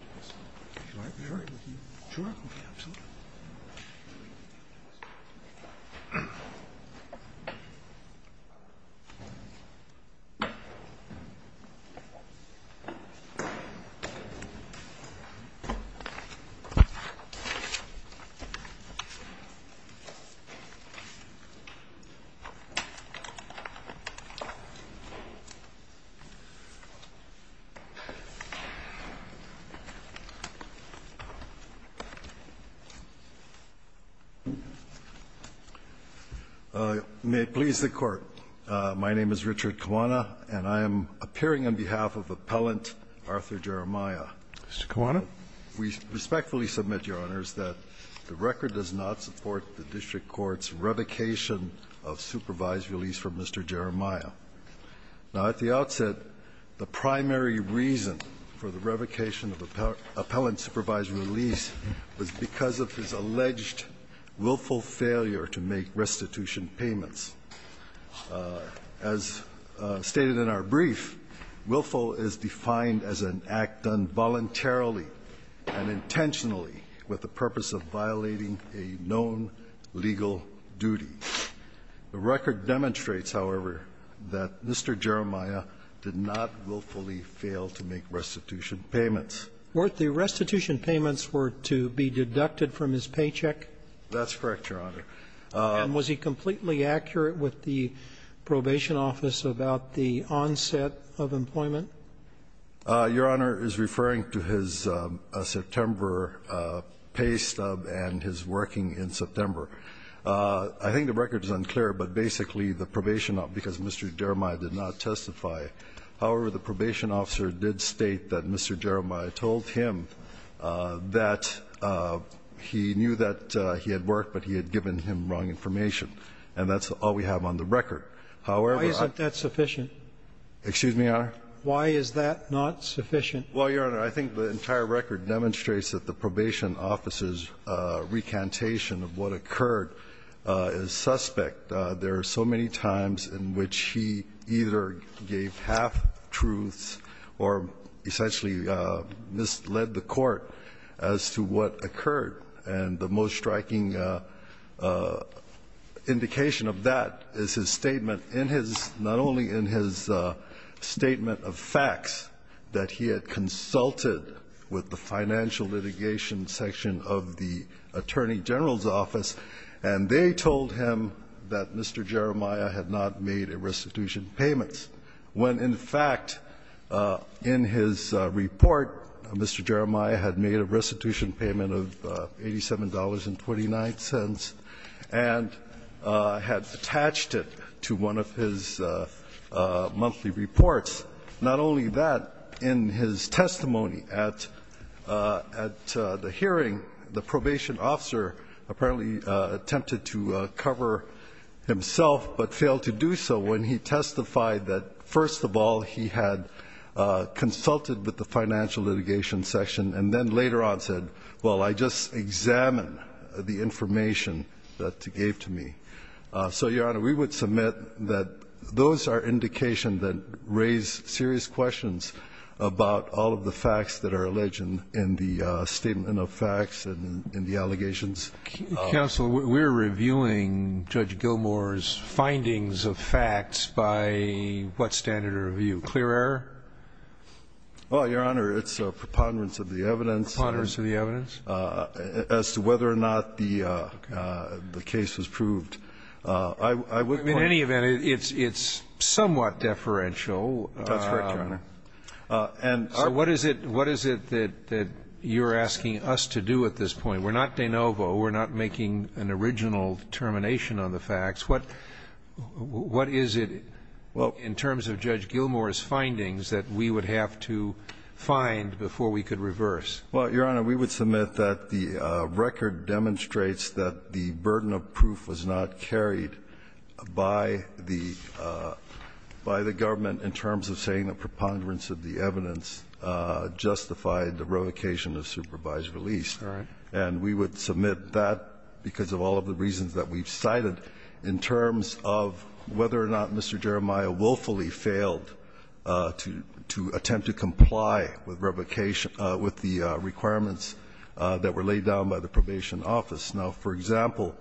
Would you like me to record with you? Sure, absolutely. May it please the Court, my name is Richard Kiwana, and I am appearing on behalf of Appellant Arthur Jeremiah. Mr. Kiwana. We respectfully submit, Your Honors, that the record does not support the district court's revocation of supervised release from Mr. Jeremiah. Now, at the outset, the primary reason for the revocation of appellant supervised release was because of his alleged willful failure to make restitution payments. As stated in our brief, willful is defined as an act done voluntarily and intentionally with the purpose of violating a known legal duty. The record demonstrates, however, that Mr. Jeremiah did not willfully fail to make restitution payments. Weren't the restitution payments were to be deducted from his paycheck? That's correct, Your Honor. And was he completely accurate with the probation office about the onset of employment? Your Honor is referring to his September pay stub and his working in September. I think the record is unclear, but basically the probation, because Mr. Jeremiah did not testify. However, the probation officer did state that Mr. Jeremiah told him that he knew that he had worked, but he had given him wrong information. And that's all we have on the record. However, I Why isn't that sufficient? Excuse me, Your Honor? Why is that not sufficient? Well, Your Honor, I think the entire record demonstrates that the probation officer's recantation of what occurred is suspect. There are so many times in which he either gave half-truths or essentially misled the court as to what occurred. And the most striking indication of that is his statement, not only in his statement of facts that he had consulted with the financial litigation section of the attorney general's office, and they told him that Mr. Jeremiah had not made a restitution payment, when, in fact, in his report, Mr. Jeremiah had made a restitution payment of $87.29 and had attached it to one of his monthly reports. Not only that, in his testimony at the hearing, the probation officer apparently attempted to cover himself, but failed to do so when he testified that, first of all, he had consulted with the financial litigation section, and then later on said, well, I just examined the information that he gave to me. So, Your Honor, we would submit that those are indications that raise serious questions about all of the facts that are alleged in the statement of facts and in the allegations. Counsel, we're reviewing Judge Gilmour's findings of facts by what standard of review? Clear error? Well, Your Honor, it's a preponderance of the evidence. Preponderance of the evidence? As to whether or not the case was proved. In any event, it's somewhat deferential. That's correct, Your Honor. So what is it that you're asking us to do at this point? We're not de novo. We're not making an original determination on the facts. What is it in terms of Judge Gilmour's findings that we would have to find before we could reverse? Well, Your Honor, we would submit that the record demonstrates that the burden of proof was not carried by the government in terms of saying the preponderance of the evidence justified the revocation of supervised release. All right. And we would submit that because of all of the reasons that we've cited in terms of whether or not Mr. Jeremiah willfully failed to attempt to comply with revocation with the requirements that were laid down by the probation office. Now, for example,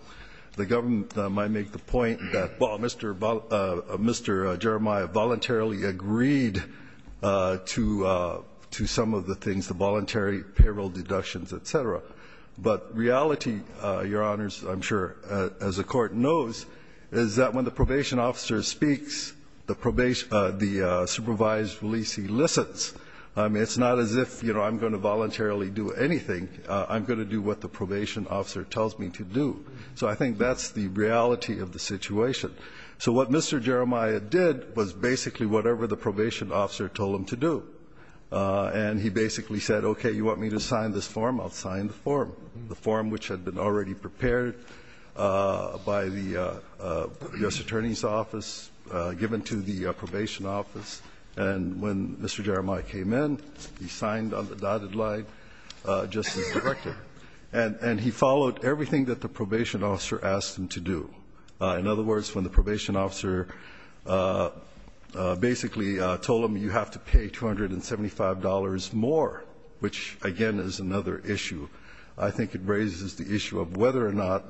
the government might make the point that, well, Mr. Jeremiah voluntarily agreed to some of the things, the voluntary payroll deductions, et cetera. But reality, Your Honors, I'm sure, as the Court knows, is that when the probation officer speaks, the supervised release, he listens. I mean, it's not as if, you know, I'm going to voluntarily do anything. I'm going to do what the probation officer tells me to do. So I think that's the reality of the situation. So what Mr. Jeremiah did was basically whatever the probation officer told him to do. And he basically said, okay, you want me to sign this form? I'll sign the form, the form which had been already prepared by the U.S. Attorney's Office, given to the probation office. And when Mr. Jeremiah came in, he signed on the dotted line just as directed. And he followed everything that the probation officer asked him to do. In other words, when the probation officer basically told him you have to pay $275 more, which again is another issue, I think it raises the issue of whether or not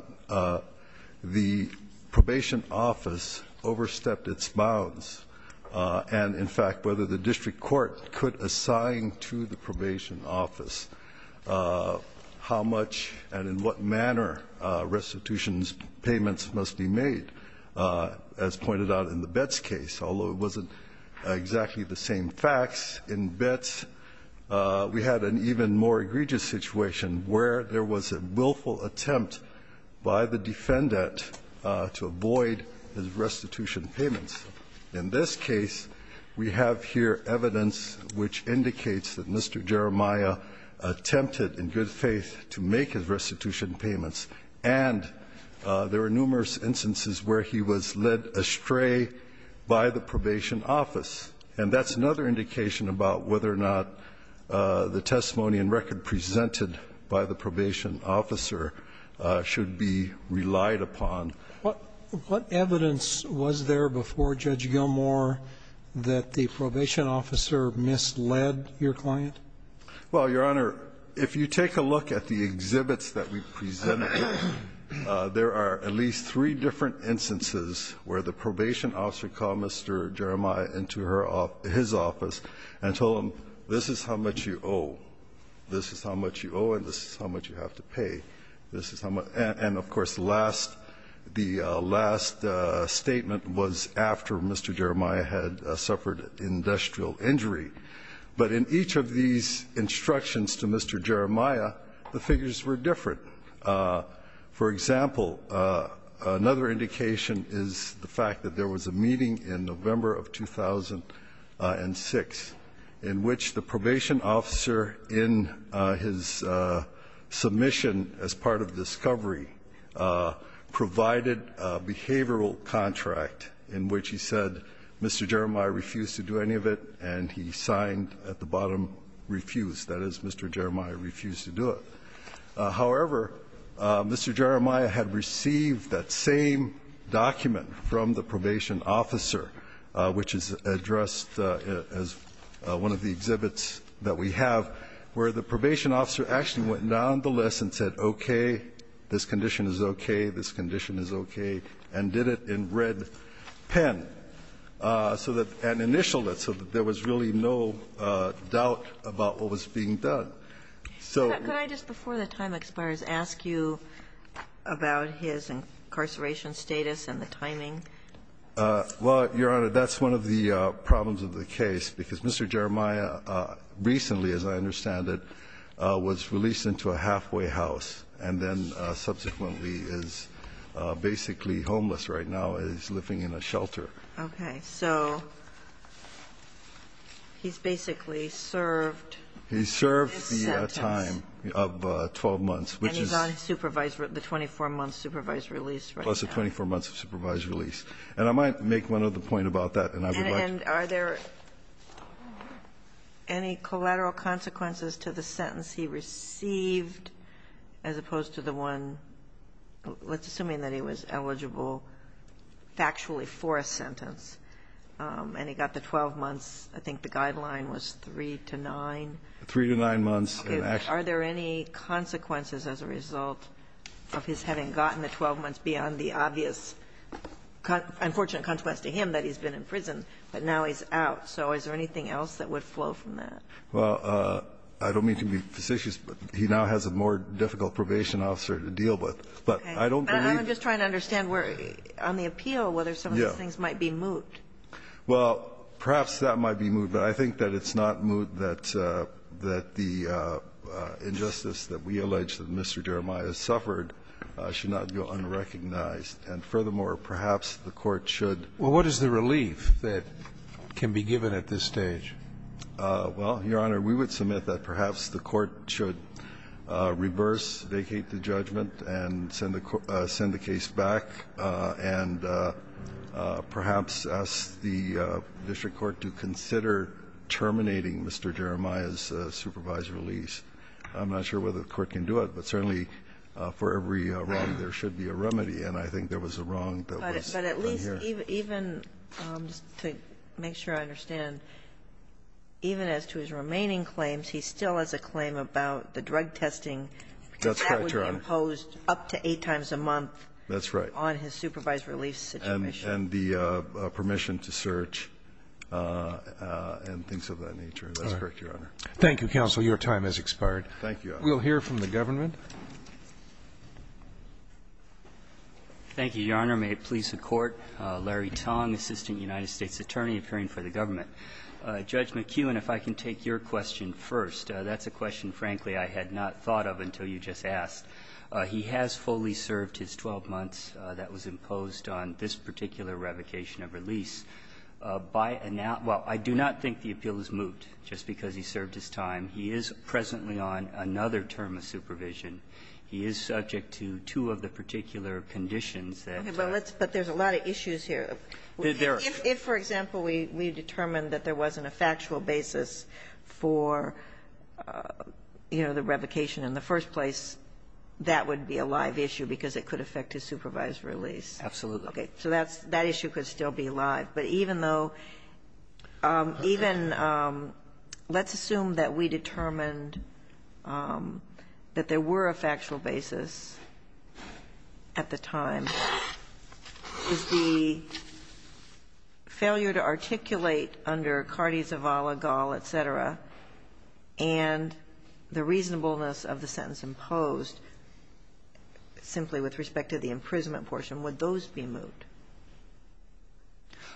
the probation office overstepped its bounds. And in fact, whether the district court could assign to the probation office how much and in what manner restitution payments must be made. As pointed out in the Betz case, although it wasn't exactly the same facts in Betz, we had an even more egregious situation where there was a willful attempt by the defendant to avoid his restitution payments. In this case, we have here evidence which indicates that Mr. Jeremiah attempted in good faith to make his restitution payments. And there were numerous instances where he was led astray by the probation office. And that's another indication about whether or not the testimony and record presented by the probation officer should be relied upon. What evidence was there before Judge Gilmour that the probation officer misled your client? Well, Your Honor, if you take a look at the exhibits that we presented, there are at least three different instances where the probation officer called Mr. Jeremiah into his office and told him this is how much you owe, this is how much you owe, and this is how much you have to pay. And of course, the last statement was after Mr. Jeremiah had suffered industrial injury. But in each of these instructions to Mr. Jeremiah, the figures were different. For example, another indication is the fact that there was a meeting in November of 2006 in which the probation officer, in his submission as part of discovery, provided a behavioral contract in which he said Mr. Jeremiah refused to do any of it, and he signed at the bottom refused, that is Mr. Jeremiah refused to do it. However, Mr. Jeremiah had received that same document from the probation officer which is addressed as one of the exhibits that we have where the probation officer actually went down the list and said okay, this condition is okay, this condition is okay, and did it in red pen. So that an initial, so that there was really no doubt about what was being done. So Can I just, before the time expires, ask you about his incarceration status and the timing? Well, Your Honor, that's one of the problems of the case because Mr. Jeremiah recently, as I understand it, was released into a halfway house and then subsequently is basically homeless right now and is living in a shelter. Okay. So he's basically served this sentence. He served the time of 12 months, which is. And he's on supervised, the 24-month supervised release right now. Plus the 24 months of supervised release. And I might make one other point about that, and I would like to. And are there any collateral consequences to the sentence he received as opposed to the one, let's assume that he was eligible factually for a sentence, and he got the 12 months, I think the guideline was 3 to 9. Three to nine months. Are there any consequences as a result of his having gotten the 12 months beyond the obvious unfortunate consequence to him that he's been in prison, but now he's out. So is there anything else that would flow from that? Well, I don't mean to be facetious, but he now has a more difficult probation officer to deal with. But I don't believe. I'm just trying to understand where, on the appeal, whether some of these things might be moot. Well, perhaps that might be moot. But I think that it's not moot that the injustice that we allege that Mr. Jeremiah has suffered should not go unrecognized. And furthermore, perhaps the Court should. Well, what is the relief that can be given at this stage? Well, Your Honor, we would submit that perhaps the Court should reverse, vacate the judgment and send the case back and perhaps ask the district court to consider terminating Mr. Jeremiah's supervised release. I'm not sure whether the Court can do it, but certainly for every wrong, there should be a remedy. And I think there was a wrong that was done here. Even, just to make sure I understand, even as to his remaining claims, he still has a claim about the drug testing. That's correct, Your Honor. That was imposed up to eight times a month. That's right. On his supervised release situation. And the permission to search and things of that nature. That's correct, Your Honor. Thank you, counsel. Your time has expired. Thank you, Your Honor. We'll hear from the government. Thank you, Your Honor. Thank you, Your Honor. May it please the Court. Larry Tong, Assistant United States Attorney, appearing for the government. Judge McKeown, if I can take your question first. That's a question, frankly, I had not thought of until you just asked. He has fully served his 12 months that was imposed on this particular revocation of release. By now – well, I do not think the appeal has moved just because he served his time. He is presently on another term of supervision. He is subject to two of the particular conditions that – Okay. But let's – but there's a lot of issues here. There are. If, for example, we determined that there wasn't a factual basis for, you know, the revocation in the first place, that would be a live issue because it could affect his supervised release. Absolutely. Okay. So that's – that issue could still be live. But even though – even – let's assume that we determined that there were a factual basis at the time. Is the failure to articulate under Cardi, Zavala, Gall, et cetera, and the reasonableness of the sentence imposed simply with respect to the imprisonment portion, would those be moved?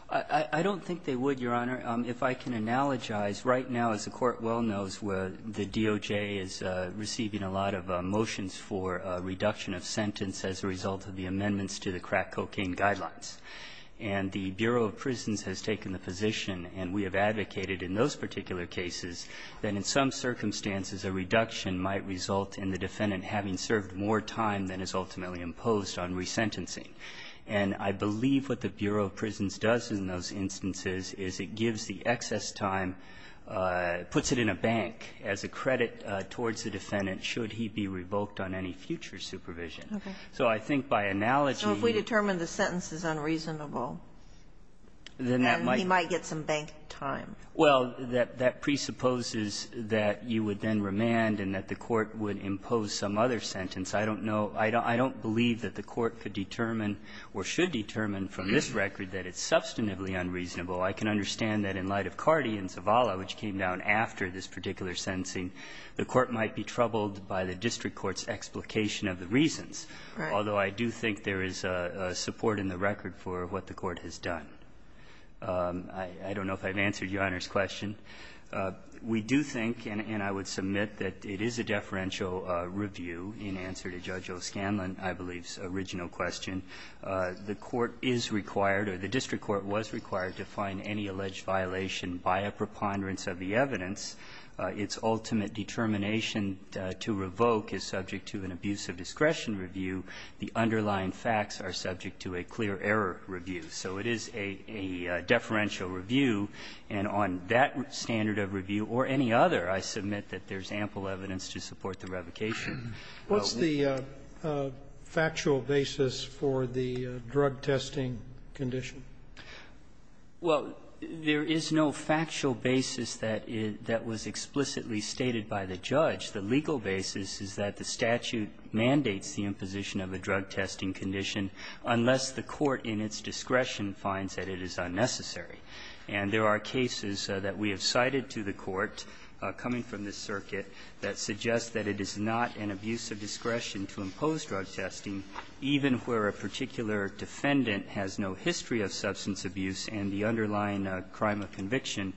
I don't think they would, Your Honor. If I can analogize, right now, as the Court well knows, the DOJ is receiving a lot of motions for a reduction of sentence as a result of the amendments to the crack cocaine guidelines. And the Bureau of Prisons has taken the position, and we have advocated in those particular cases, that in some circumstances a reduction might result in the defendant having served more time than is ultimately imposed on resentencing. And I believe what the Bureau of Prisons does in those instances is it gives the excess time, puts it in a bank as a credit towards the defendant should he be revoked on any future supervision. Okay. So I think by analogy – So if we determine the sentence is unreasonable, then he might get some bank time. Well, that presupposes that you would then remand and that the Court would impose some other sentence. I don't know – I don't believe that the Court could determine or should determine from this record that it's substantively unreasonable. I can understand that in light of Carty and Zavala, which came down after this particular sentencing, the Court might be troubled by the district court's explication of the reasons, although I do think there is support in the record for what the Court has done. I don't know if I've answered Your Honor's question. We do think, and I would submit, that it is a deferential review in answer to Judge O'Scanlon, I believe's original question. The court is required, or the district court was required, to find any alleged violation by a preponderance of the evidence. Its ultimate determination to revoke is subject to an abuse of discretion review. The underlying facts are subject to a clear error review. So it is a deferential review, and on that standard of review or any other, I submit that there's ample evidence to support the revocation. What's the factual basis for the drug testing condition? Well, there is no factual basis that was explicitly stated by the judge. The legal basis is that the statute mandates the imposition of a drug testing condition unless the court in its discretion finds that it is unnecessary. And there are cases that we have cited to the Court, coming from this circuit, that suggest that it is not an abuse of discretion to impose drug testing, even where a particular defendant has no history of substance abuse and the underlying crime of conviction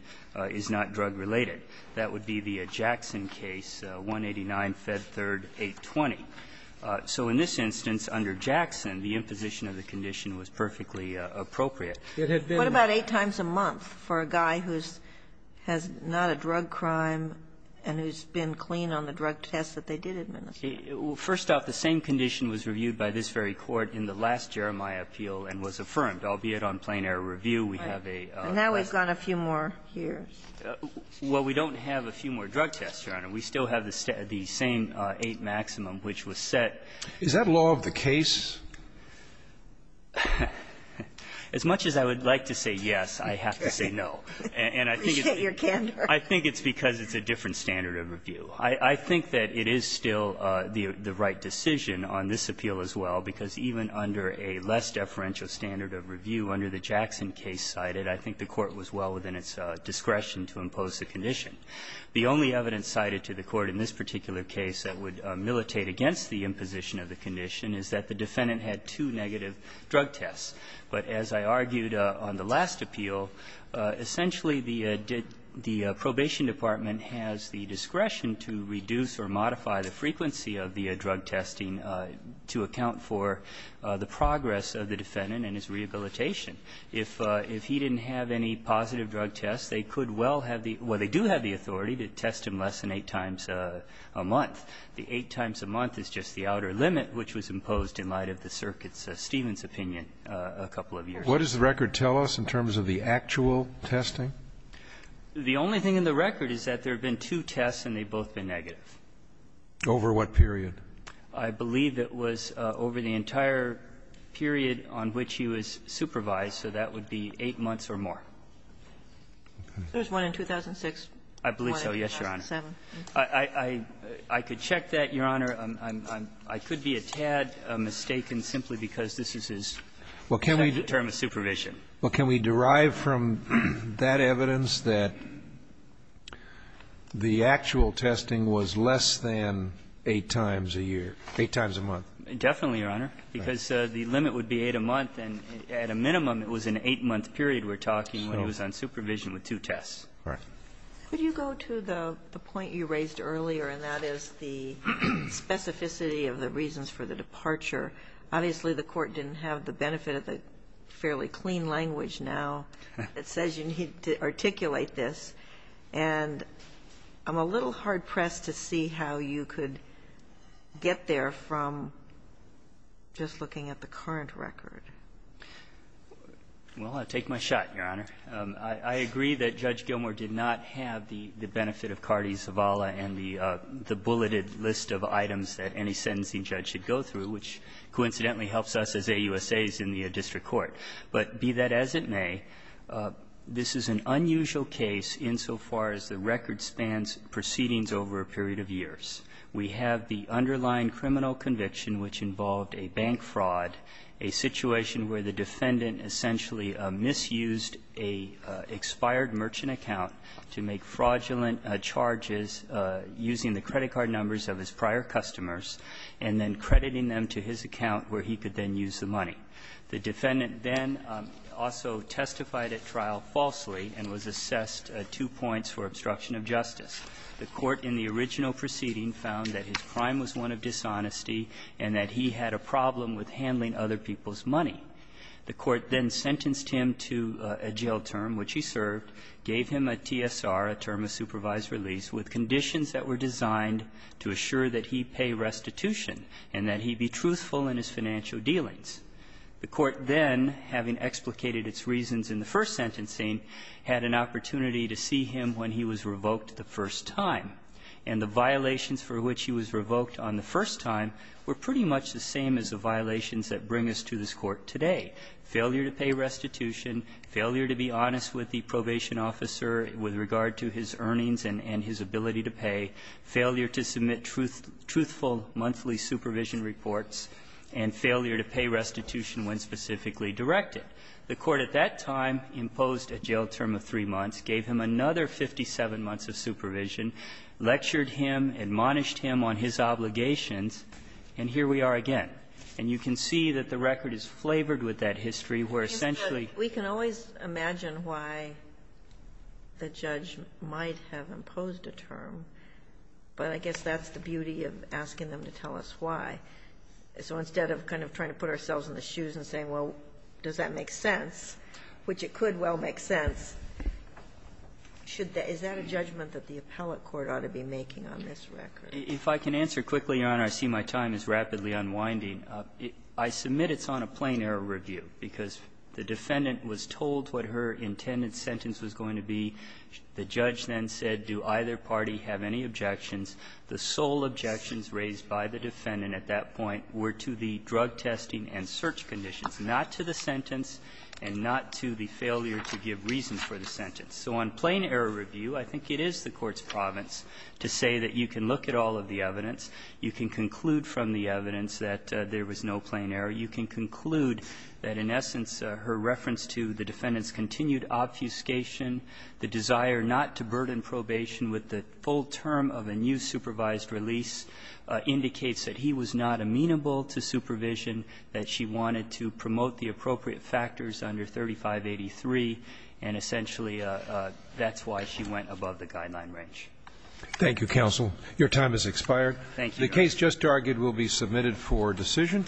is not drug-related. That would be the Jackson case, 189, Fed Third, 820. So in this instance, under Jackson, the imposition of the condition was perfectly appropriate. It had been not. What about eight times a month for a guy who's not a drug crime and who's been clean on the drug tests that they did administer? First off, the same condition was reviewed by this very court in the last Jeremiah appeal and was affirmed, albeit on plain error review. We have a question. And now we've got a few more here. Well, we don't have a few more drug tests, Your Honor. We still have the same eight maximum, which was set. Is that law of the case? As much as I would like to say yes, I have to say no. And I think it's because it's a different standard of review. I think that it is still the right decision on this appeal as well, because even under a less deferential standard of review under the Jackson case cited, I think the Court was well within its discretion to impose the condition. The only evidence cited to the Court in this particular case that would militate against the imposition of the condition is that the defendant had two negative drug tests. But as I argued on the last appeal, essentially, the did the probation department has the discretion to reduce or modify the frequency of the drug testing to account for the progress of the defendant and his rehabilitation. If he didn't have any positive drug tests, they could well have the or they do have the authority to test him less than eight times a month. The eight times a month is just the outer limit which was imposed in light of the circuit's, Stephen's opinion a couple of years ago. What does the record tell us in terms of the actual testing? The only thing in the record is that there have been two tests and they've both been negative. Over what period? I believe it was over the entire period on which he was supervised, so that would be eight months or more. There was one in 2006. I believe so, yes, Your Honor. I could check that, Your Honor. I could be a tad mistaken simply because this is his second term of supervision. Well, can we derive from that evidence that the actual testing was less than eight times a year, eight times a month? Definitely, Your Honor, because the limit would be eight a month, and at a minimum it was an eight-month period we're talking when he was on supervision with two tests. All right. Could you go to the point you raised earlier, and that is the specificity of the reasons for the departure? Obviously, the Court didn't have the benefit of the fairly clean language now that says you need to articulate this, and I'm a little hard-pressed to see how you could get there from just looking at the current record. Well, I'll take my shot, Your Honor. I agree that Judge Gilmour did not have the benefit of Cardi-Zavala and the bulleted list of items that any sentencing judge should go through, which coincidentally helps us as AUSAs in the district court. But be that as it may, this is an unusual case insofar as the record spans proceedings over a period of years. We have the underlying criminal conviction, which involved a bank fraud, a situation where the defendant essentially misused a expired merchant account to make fraudulent charges using the credit card numbers of his prior customers and then crediting them to his account where he could then use the money. The defendant then also testified at trial falsely and was assessed two points for obstruction of justice. The Court in the original proceeding found that his crime was one of dishonesty and that he had a problem with handling other people's money. The Court then sentenced him to a jail term, which he served, gave him a TSR, a term of supervised release, with conditions that were designed to assure that he pay restitution and that he be truthful in his financial dealings. The Court then, having explicated its reasons in the first sentencing, had an opportunity to see him when he was revoked the first time. And the violations for which he was revoked on the first time were pretty much the same as the violations that bring us to this Court today. Failure to pay restitution, failure to be honest with the probation officer with regard to his earnings and his ability to pay, failure to submit truthful monthly supervision reports, and failure to pay restitution when specifically directed. The Court at that time imposed a jail term of three months, gave him another 57 months of supervision, lectured him, admonished him on his obligations, and here we are again. And you can see that the record is flavored with that history, where essentially we can always imagine why the judge might have imposed a term, but I guess that's the beauty of asking them to tell us why. So instead of kind of trying to put ourselves in the shoes and saying, well, does that make sense, which it could well make sense, should the – is that a judgment that the appellate court ought to be making on this record? If I can answer quickly, Your Honor, I see my time is rapidly unwinding. I submit it's on a plain-error review, because the defendant was told what her intended sentence was going to be. The judge then said, do either party have any objections? The sole objections raised by the defendant at that point were to the drug testing and search conditions, not to the sentence and not to the failure to give reasons for the sentence. So on plain-error review, I think it is the Court's province to say that you can look at all of the evidence, you can conclude from the evidence that there was no plain error, you can conclude that in essence her reference to the defendant's continued obfuscation, the desire not to burden probation with the full term of a new supervised under 3583, and essentially that's why she went above the guideline range. Thank you, counsel. Your time has expired. Thank you, Your Honor. The case just argued will be submitted for decision.